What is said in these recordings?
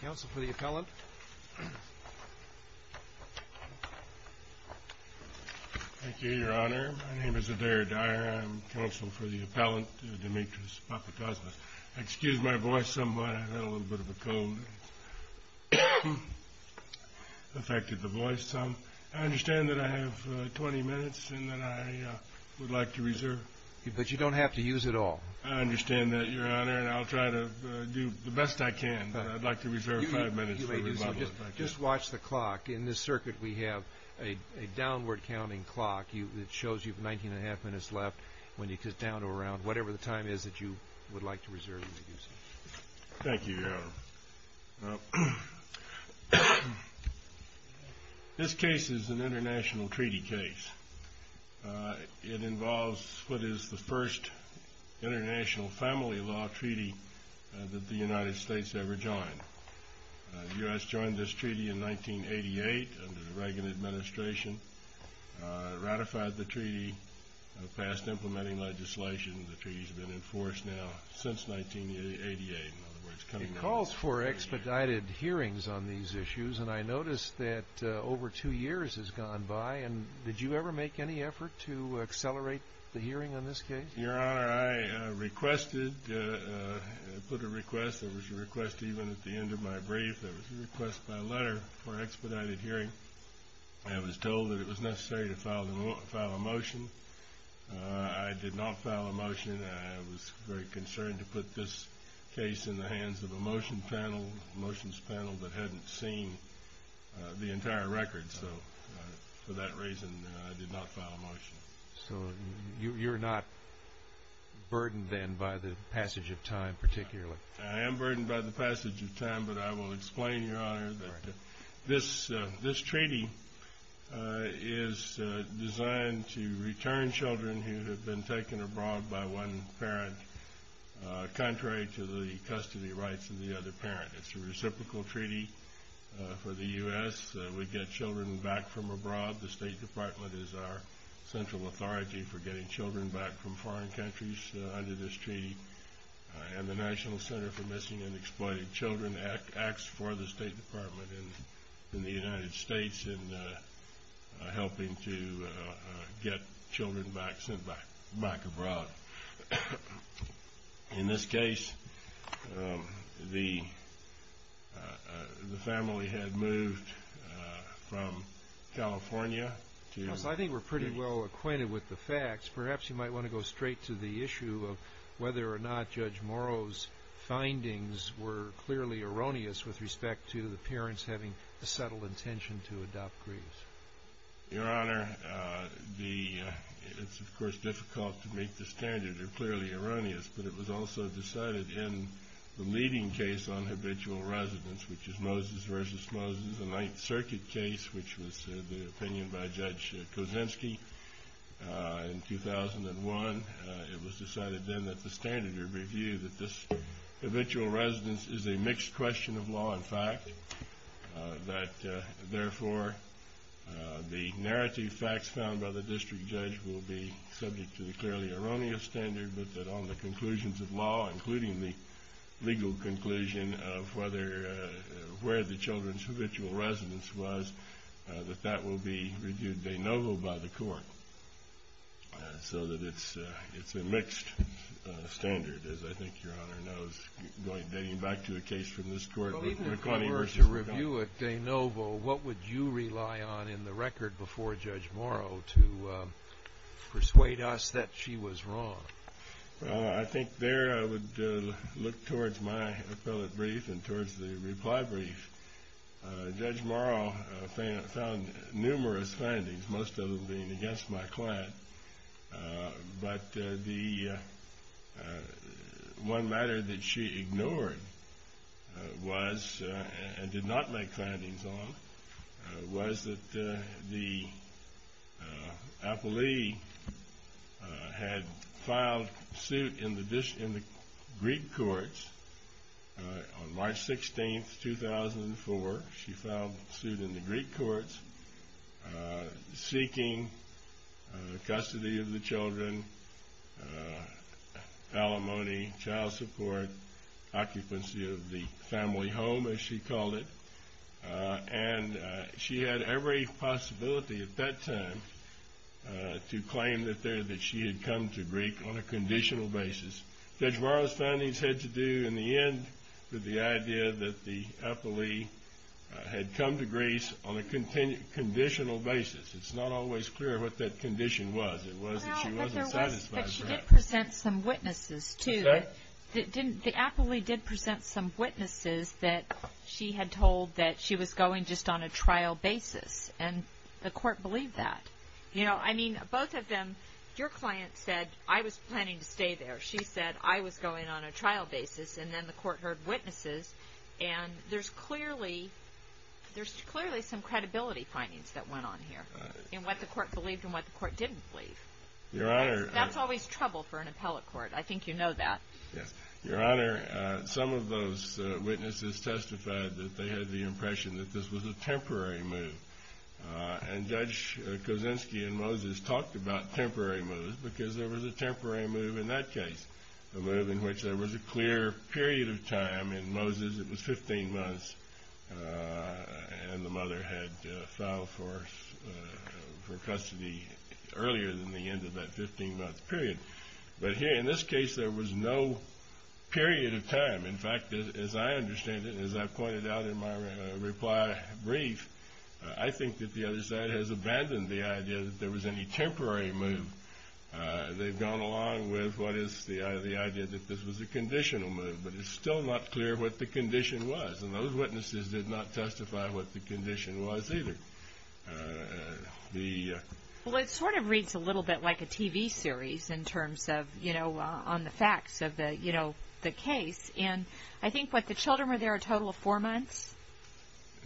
Counsel for the appellant. Thank you, your honor. My name is Adair Dyer. I'm counsel for the appellant, Demetrius Papakosmos. Excuse my voice somewhat. I had a little bit of a cold. It affected the voice some. I understand that I have 20 minutes and that I would like to reserve. But you don't have to use it all. I understand that, your honor, and I'll try to do the best I can. But I'd like to reserve five minutes for rebuttal, if I can. Just watch the clock. In this circuit, we have a downward counting clock that shows you 19 and a half minutes left when you get down to around whatever the time is that you would like to reserve. Thank you, your honor. This case is an international treaty case. It involves what is the first international family law treaty that the United States ever joined. The U.S. joined this treaty in 1988 under the Reagan administration. It ratified the treaty, passed implementing legislation. The treaty's been enforced now since 1988. In other words, coming out of 1988. It calls for expedited hearings on these issues. And I noticed that over two years has gone by. And did you ever make any effort to accelerate the hearing on this case? Your honor, I requested, put a request. There was a request even at the end of my brief. There was a request by letter for expedited hearing. I was told that it was necessary to file a motion. I did not file a motion. I was very concerned to put this case in the hands of a motions panel that hadn't seen the entire record. So, for that reason, I did not file a motion. So, you're not burdened then by the passage of time, particularly? I am burdened by the passage of time. But I will explain, your honor, that this treaty is designed to return children who have been taken abroad by one parent, contrary to the custody rights of the other parent. It's a reciprocal treaty for the U.S. We get children back from abroad. The State Department is our central authority for getting children back from foreign countries under this treaty. And the National Center for Missing and Exploited Children acts for the State Department in the United States in helping to get children back sent back abroad. In this case, the family had moved from California to the- I think we're pretty well acquainted with the facts. Perhaps you might want to go straight to the issue of whether or not Judge Morrow's findings were clearly erroneous with respect to the parents having a subtle intention to adopt Grieves. Your honor, the- it's, of course, difficult to make the standard are clearly erroneous, but it was also decided in the leading case on habitual residence, which is Moses versus Moses, the Ninth Circuit case, which was the opinion by Judge Kozinski in 2001. It was decided then that the standard review that this habitual residence is a mixed question of law and fact, that therefore the narrative facts found by the district judge will be subject to the clearly erroneous standard, but that on the conclusions of law, including the legal conclusion of whether- where the children's habitual residence was, that that will be reviewed de novo by the court. So that it's a mixed standard, as I think your honor knows, going back to a case from this court. But even if there were to review it de novo, what would you rely on in the record before Judge Morrow to persuade us that she was wrong? Well, I think there I would look towards my appellate brief and towards the reply brief. Judge Morrow found numerous findings, most of them being against my client, but the one matter that she ignored was, and did not make findings on, was that the appellee had filed suit in the Greek courts on March 16th, 2004. She filed suit in the Greek courts, seeking custody of the children, alimony, child support, occupancy of the family home, as she called it. And she had every possibility at that time to claim that there- that she had come to Greek on a conditional basis. Judge Morrow's findings had to do, in the end, with the idea that the appellee had come to Greece on a conditional basis. It's not always clear what that condition was. It was that she wasn't satisfied. But she did present some witnesses, too. Did she? The appellee did present some witnesses that she had told that she was going just on a trial basis, and the court believed that. You know, I mean, both of them, your client said, I was planning to stay there. She said, I was going on a trial basis, and then the court heard witnesses. And there's clearly- there's clearly some credibility findings that went on here. And what the court believed, and what the court didn't believe. Your Honor- That's always trouble for an appellate court. I think you know that. Yes. Your Honor, some of those witnesses testified that they had the impression that this was a temporary move. And Judge Kosinski and Moses talked about temporary moves, because there was a temporary move in that case. A move in which there was a clear period of time in Moses. It was 15 months, and the mother had filed for custody earlier than the end of that 15-month period. But here, in this case, there was no period of time. In fact, as I understand it, and as I've pointed out in my reply brief, I think that the other side has abandoned the idea that there was any temporary move. They've gone along with what is the idea that this was a conditional move. But it's still not clear what the condition was. And those witnesses did not testify what the condition was, either. The- Well, it sort of reads a little bit like a TV series in terms of, you know, on the facts of the, you know, the case. And I think what the children were there a total of four months.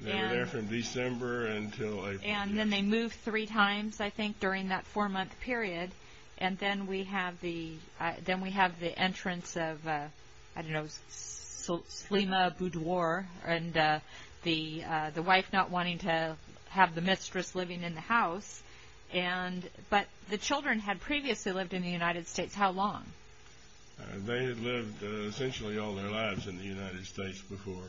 They were there from December until April. And then they moved three times, I think, during that four-month period. And then we have the entrance of, I don't know, Slema Boudoir, and the wife not wanting to have the mistress living in the house. And, but the children had previously lived in the United States. How long? They had lived essentially all their lives in the United States before.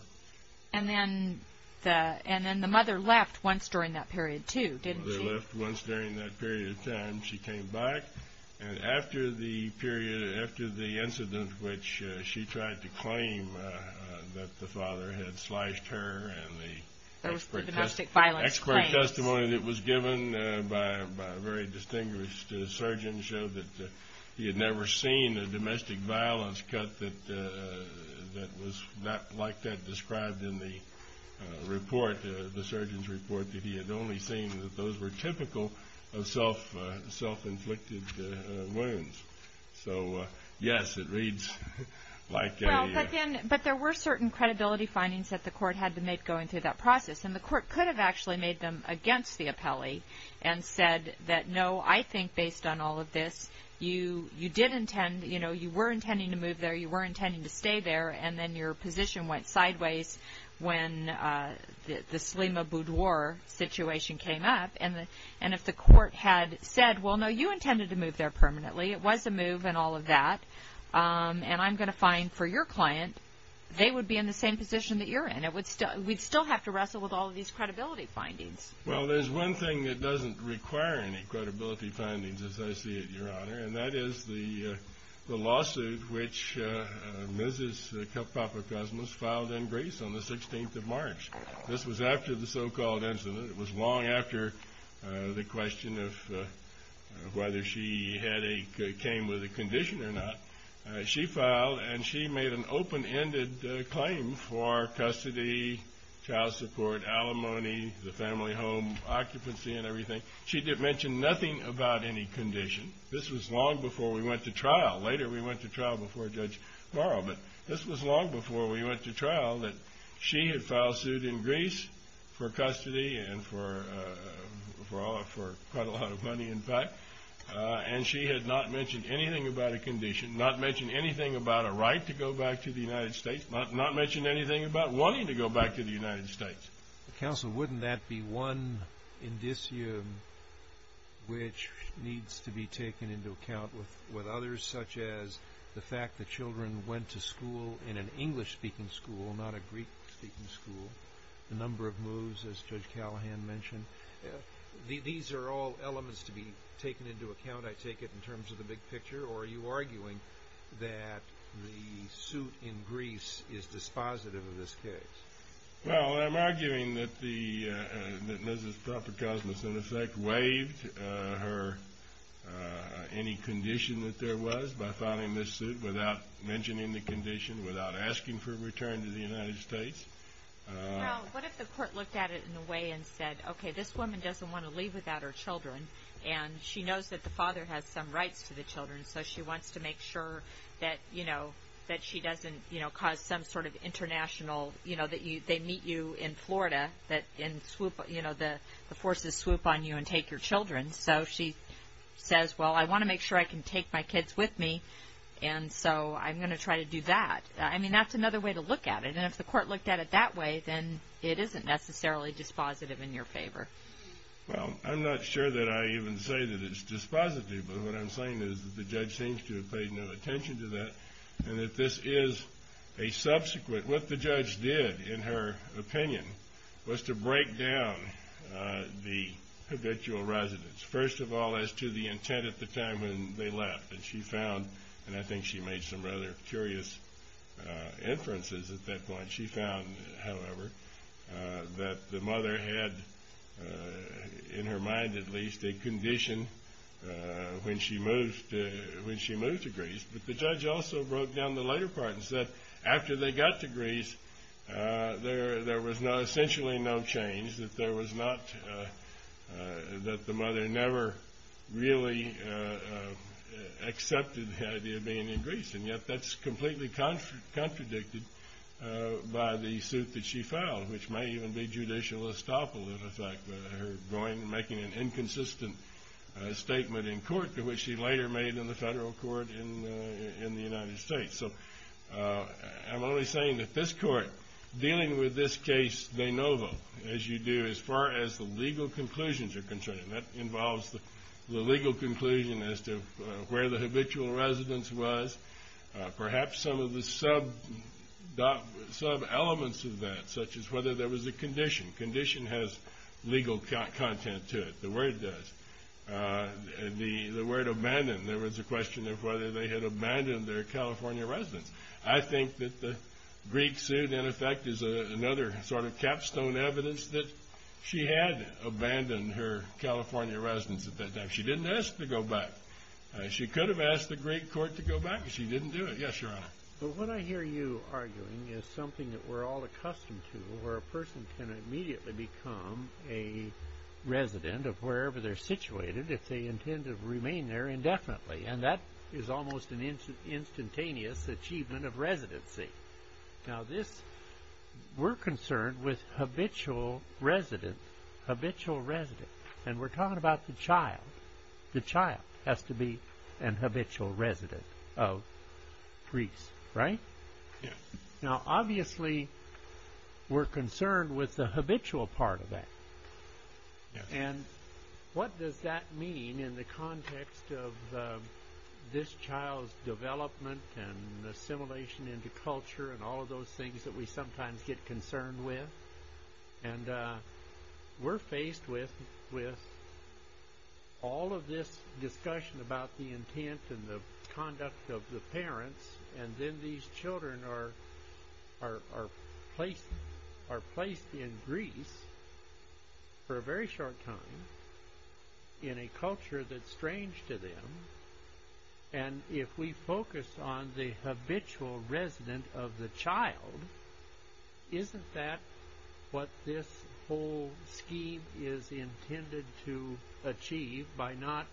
And then the mother left once during that period, too, didn't she? The mother left once during that period of time. She came back. And after the period, after the incident which she tried to claim that the father had slashed her and the- That was the domestic violence claims. Expert testimony that was given by a very distinguished surgeon showed that he had never seen a domestic violence cut that was not like that described in the report, the surgeon's report, that he had only seen that those were typical of self-inflicted wounds. So, yes, it reads like a- Well, but then, but there were certain credibility findings that the court had to make going through that process, and the court could have actually made them against the appellee and said that no, I think based on all of this, you did intend, you know, you were intending to move there. You were intending to stay there. And then your position went sideways when the Selima Boudoir situation came up. And if the court had said, well, no, you intended to move there permanently, it was a move and all of that, and I'm going to find for your client they would be in the same position that you're in, we'd still have to wrestle with all of these credibility findings. Well, there's one thing that doesn't require any credibility findings as I see it, which Mrs. Papakosmos filed in Greece on the 16th of March. This was after the so-called incident. It was long after the question of whether she had a, came with a condition or not. She filed, and she made an open-ended claim for custody, child support, alimony, the family home occupancy and everything. She didn't mention nothing about any condition. This was long before we went to trial. Later we went to trial before Judge Barrow, but this was long before we went to trial that she had filed suit in Greece for custody and for quite a lot of money in fact. And she had not mentioned anything about a condition, not mentioned anything about a right to go back to the United States, not mentioned anything about wanting to go back to the United States. Counsel, wouldn't that be one indicium which needs to be taken into account with others such as the fact that children went to school in an English-speaking school, not a Greek-speaking school, the number of moves, as Judge Callahan mentioned. These are all elements to be taken into account, I take it, in terms of the big picture, or are you arguing that the suit in Greece is dispositive of this case? Well, I'm arguing that the, that Mrs. Propper-Cosmas in effect waived her, any condition that there was by filing this suit without mentioning the condition, without asking for a return to the United States. Well, what if the court looked at it in a way and said, okay, this woman doesn't want to leave without her children, and she knows that the father has some rights to the children, so she wants to make sure that, you know, that she doesn't, you know, cause some sort of international, you know, that they meet you in Florida, that in swoop, you know, the forces swoop on you and take your children, so she says, well, I want to make sure I can take my kids with me, and so I'm going to try to do that. I mean, that's another way to look at it, and if the court looked at it that way, then it isn't necessarily dispositive in your favor. Well, I'm not sure that I even say that it's dispositive, but what I'm saying is that the judge seems to have paid no attention to that, and that this is a subsequent. What the judge did, in her opinion, was to break down the habitual residence, first of all, as to the intent at the time when they left, and she found, and I think she made some rather curious inferences at that point. She found, however, that the mother had, in her mind at least, a condition when she moved to Greece, but the judge also broke down the later part and said, after they got to Greece, there was essentially no change, that there was not, that the mother never really accepted the idea of being in Greece, and yet that's completely contradicted by the suit that she filed, which may even be judicial estoppel, in effect, her going and making an inconsistent statement in court, which she later made in the federal court in the United States. So, I'm only saying that this court, dealing with this case de novo, as you do, as far as the legal conclusions are concerned, and that involves the legal conclusion as to where the habitual residence was, perhaps some of the sub-elements of that, such as whether there was a condition. Condition has legal content to it, the word does. The word abandoned, there was a question of whether they had abandoned their California residence. I think that the Greek suit, in effect, is another sort of capstone evidence that she had abandoned her California residence at that time. She didn't ask to go back. She could have asked the Greek court to go back, but she didn't do it. Yes, Your Honor. But what I hear you arguing is something that we're all accustomed to, where a person can immediately become a resident of wherever they're situated if they intend to remain there indefinitely. And that is almost an instantaneous achievement of residency. Now, this, we're concerned with habitual residence, habitual residence. And we're talking about the child. The child has to be a habitual resident of Greece, right? Yes. Now, obviously, we're concerned with the habitual part of that. And what does that mean in the context of this child's development and assimilation into culture and all of those things that we sometimes get concerned with? And we're faced with all of this discussion about the intent and the conduct of the parents, and then these children are placed in Greece for a very short time in a culture that's strange to them. And if we focus on the habitual resident of the child, isn't that what this whole scheme is intended to achieve by not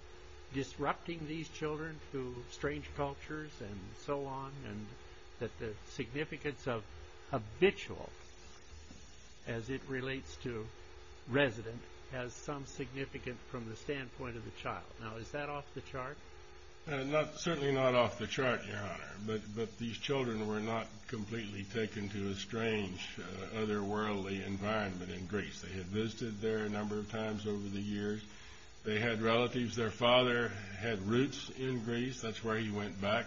disrupting these children to strange cultures and so on? And that the significance of habitual as it relates to resident has some significance from the standpoint of the child. Now, is that off the chart? Certainly not off the chart, Your Honor. But these children were not completely taken to a strange, otherworldly environment in Greece. They had visited there a number of times over the years. They had relatives. Their father had roots in Greece. That's where he went back.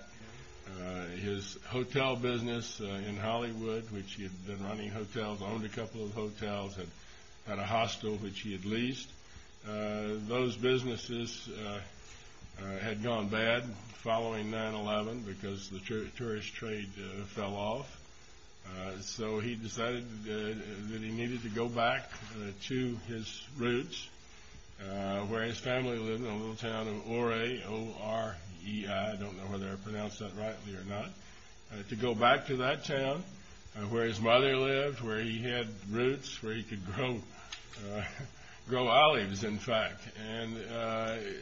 His hotel business in Hollywood, which he had been running hotels, owned a couple of hotels, had a hostel, which he had leased. Those businesses had gone bad following 9-11 because the tourist trade fell off. So he decided that he needed to go back to his roots. Where his family lived in a little town of Ore, O-R-E-I. I don't know whether I pronounced that rightly or not. To go back to that town where his mother lived, where he had roots, where he could grow olives, in fact. And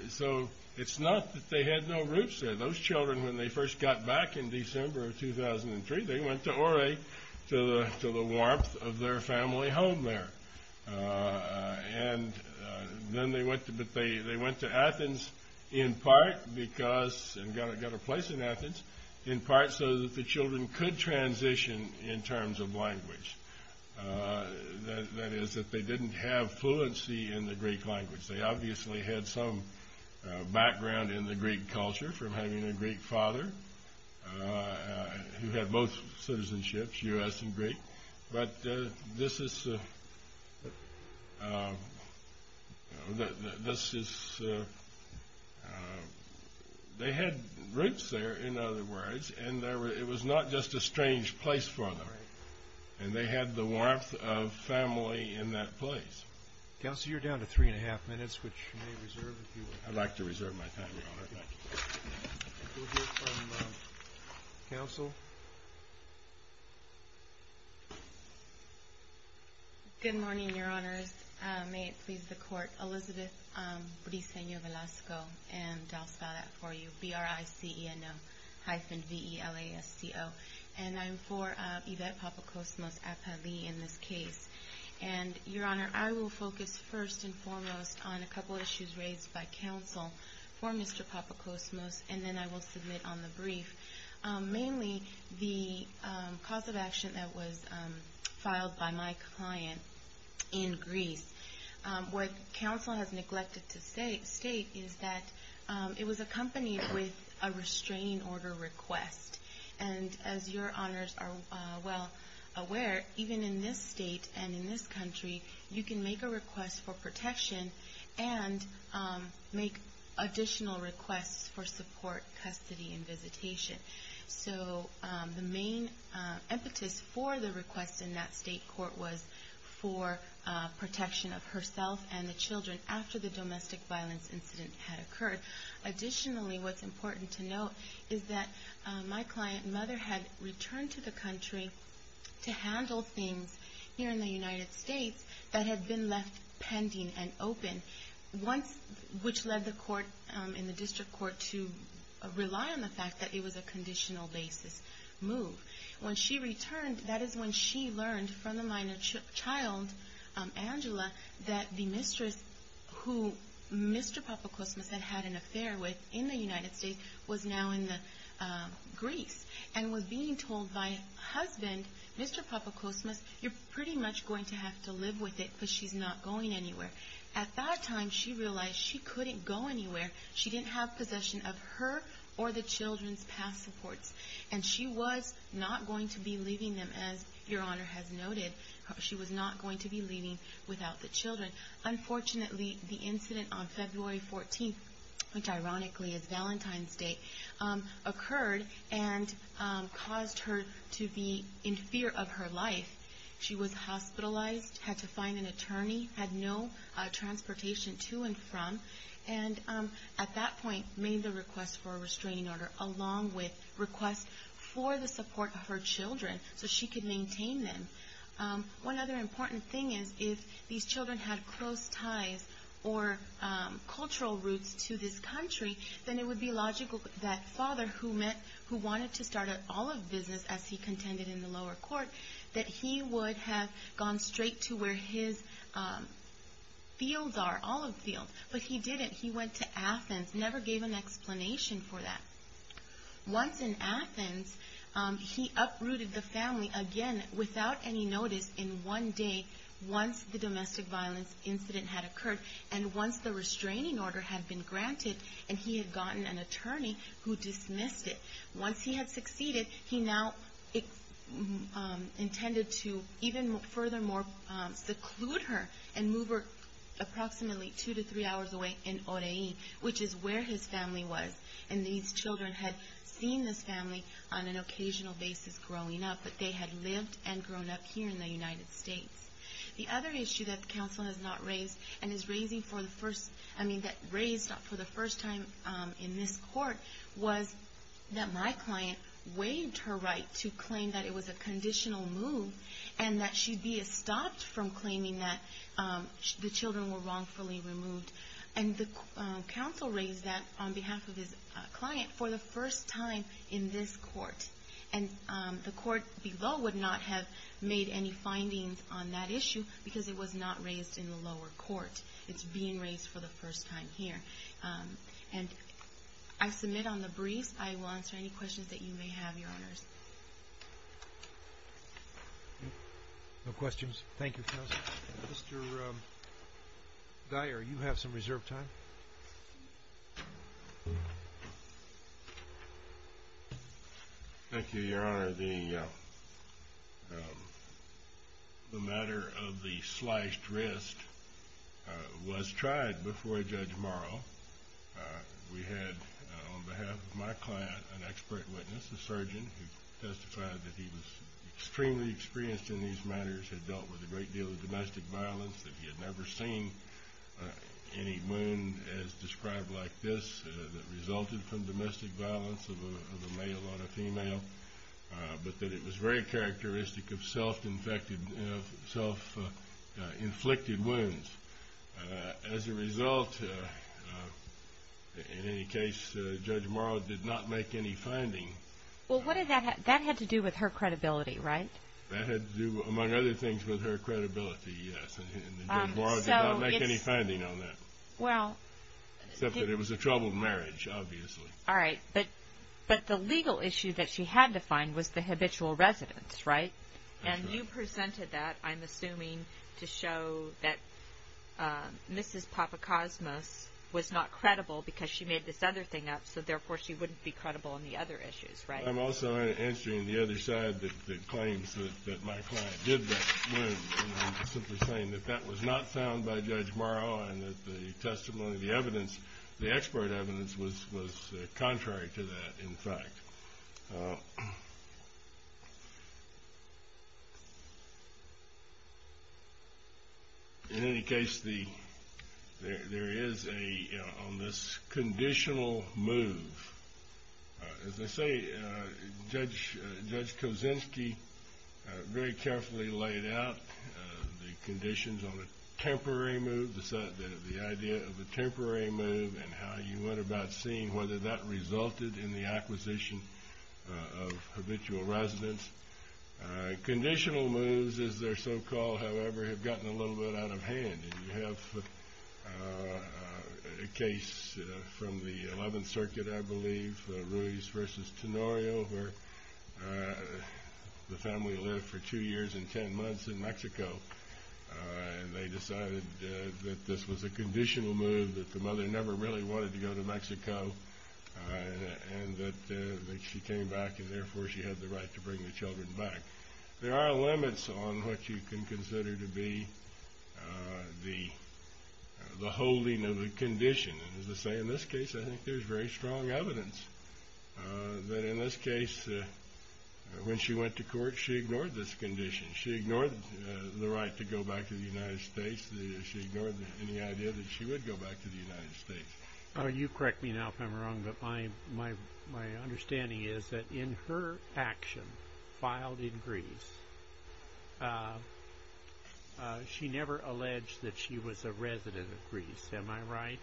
so it's not that they had no roots there. Those children, when they first got back in December of 2003, they went to Ore to the warmth of their family home there. And then they went to Athens in part because, and got a place in Athens, in part so that the children could transition in terms of language. That is, that they didn't have fluency in the Greek language. They obviously had some background in the Greek culture from having a Greek father who had both citizenships, U.S. and Greek. But this is, this is, they had roots there, in other words, and it was not just a strange place for them. And they had the warmth of family in that place. Council, you're down to three-and-a-half minutes, which you may reserve if you would. I'd like to reserve my time, Your Honor. Thank you. We'll hear from Council. Good morning, Your Honors. May it please the Court. Elizabeth Briseño Velasco, and I'll spell that for you, B-R-I-C-E-N-O hyphen V-E-L-A-S-C-O. And I'm for Yvette Papakosmos-Apavie in this case. And, Your Honor, I will focus first and foremost on a couple of issues raised by Council for Mr. Papakosmos, and then I will submit on the brief, mainly the cause of action that was filed by my client in Greece. What Council has neglected to state is that it was accompanied with a restraining order request. And as Your Honors are well aware, even in this state and in this country, you can make a request for protection and make additional requests for support, custody, and visitation. So the main impetus for the request in that state court was for protection of herself and the children after the domestic violence incident had occurred. Additionally, what's important to note is that my client's mother had returned to the country to handle things here in the United States that had been left pending and open, which led the court in the district court to rely on the fact that it was a conditional basis move. When she returned, that is when she learned from the minor child, Angela, that the mistress who Mr. Papakosmos had had an affair with in the United States was now in Greece and was being told by her husband, Mr. Papakosmos, you're pretty much going to have to live with it because she's not going anywhere. At that time, she realized she couldn't go anywhere. She didn't have possession of her or the children's past supports. And she was not going to be leaving them, as Your Honor has noted. She was not going to be leaving without the children. Unfortunately, the incident on February 14th, which ironically is Valentine's Day, occurred and caused her to be in fear of her life. She was hospitalized, had to find an attorney, had no transportation to and from, and at that point made the request for a restraining order along with requests for the support of her children so she could maintain them. One other important thing is if these children had close ties or cultural roots to this country, then it would be logical that father who wanted to start an olive business as he contended in the lower court, that he would have gone straight to where his fields are, olive fields. But he didn't. He went to Athens, never gave an explanation for that. Once in Athens, he uprooted the family again without any notice in one day once the domestic violence incident had occurred and once the restraining order had been granted and he had gotten an attorney who dismissed it. Once he had succeeded, he now intended to even furthermore seclude her and move her approximately two to three hours away in Oreie, which is where his family was. And these children had seen this family on an occasional basis growing up, but they had lived and grown up here in the United States. The other issue that the counsel has not raised and is raising for the first, I mean, that raised for the first time in this court was that my client waived her right to claim that it was a conditional move and that she be stopped from claiming that the children were wrongfully removed. And the counsel raised that on behalf of his client for the first time in this court. And the court below would not have made any findings on that issue because it was not raised in the lower court. It's being raised for the first time here. And I submit on the briefs, I will answer any questions that you may have, Your Honors. No questions. Thank you, Counsel. Mr. Dyer, you have some reserved time. Thank you, Your Honor. The matter of the sliced wrist was tried before Judge Morrow. We had, on behalf of my client, an expert witness, a surgeon who testified that he was extremely experienced in these matters, had dealt with a great deal of domestic violence, that he had never seen any wound as described like this that resulted from domestic violence of a male on a female, but that it was very characteristic of self-inflicted wounds. As a result, in any case, Judge Morrow did not make any finding. Well, what did that have to do with her credibility, right? That had to do, among other things, with her credibility, yes. And Judge Morrow did not make any finding on that. Well. Except that it was a troubled marriage, obviously. All right. But the legal issue that she had to find was the habitual residence, right? And you presented that, I'm assuming, to show that Mrs. Papakosmos was not credible because she made this other thing up, so therefore, she wouldn't be credible on the other issues, right? I'm also answering the other side that claims that my client did that wound. And I'm simply saying that that was not found by Judge Morrow and that the testimony, the evidence, the expert evidence, was contrary to that, in fact. In any case, there is a, on this conditional move, as I say, Judge Kosinski very carefully laid out the conditions on a temporary move, the idea of a temporary move and how you went about seeing whether that resulted in the acquisition of habitual residence. Conditional moves, as they're so-called, however, have gotten a little bit out of hand. And you have a case from the 11th Circuit, I believe, Ruiz versus Tenorio, where the family lived for two years and ten months in Mexico. And they decided that this was a conditional move, that the mother never really wanted to go to Mexico. And that she came back and, therefore, she had the right to bring the children back. There are limits on what you can consider to be the holding of a condition. And, as I say, in this case, I think there's very strong evidence that, in this case, when she went to court, she ignored this condition. She ignored the right to go back to the United States. She ignored any idea that she would go back to the United States. You correct me now if I'm wrong, but my understanding is that, in her action filed in Greece, she never alleged that she was a resident of Greece, am I right?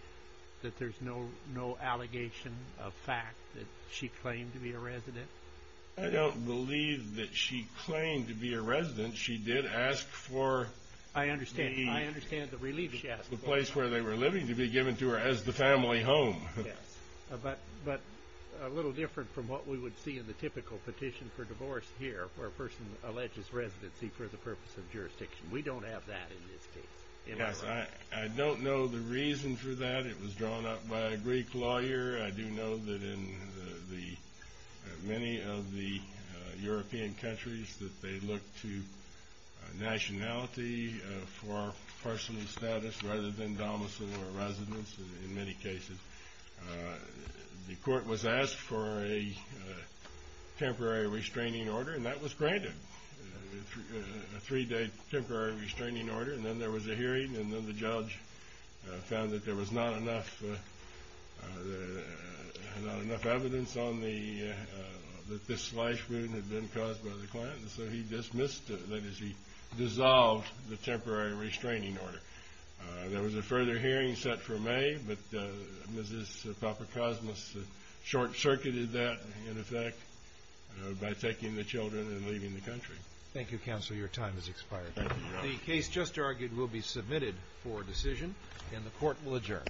That there's no allegation of fact that she claimed to be a resident? I don't believe that she claimed to be a resident. She did ask for the place where they were living to be given to her, as the family home. Yes. But a little different from what we would see in the typical petition for divorce here, where a person alleges residency for the purpose of jurisdiction. We don't have that in this case, am I right? Yes. I don't know the reason for that. It was drawn up by a Greek lawyer. I do know that in the, many of the European countries, that they look to nationality for personal status rather than domicile or residence in many cases. The court was asked for a temporary restraining order, and that was granted. A three-day temporary restraining order, and then there was a hearing, and then the judge found that there was not enough evidence on the, that this slush food had been caused by the client. So he dismissed, that is, he dissolved the temporary restraining order. There was a further hearing set for May, but Mrs. Papakosmos short-circuited that, in effect, by taking the children and leaving the country. Thank you, Counselor. Your time has expired. Thank you, Your Honor. The case just argued will be submitted for decision, and the court will adjourn.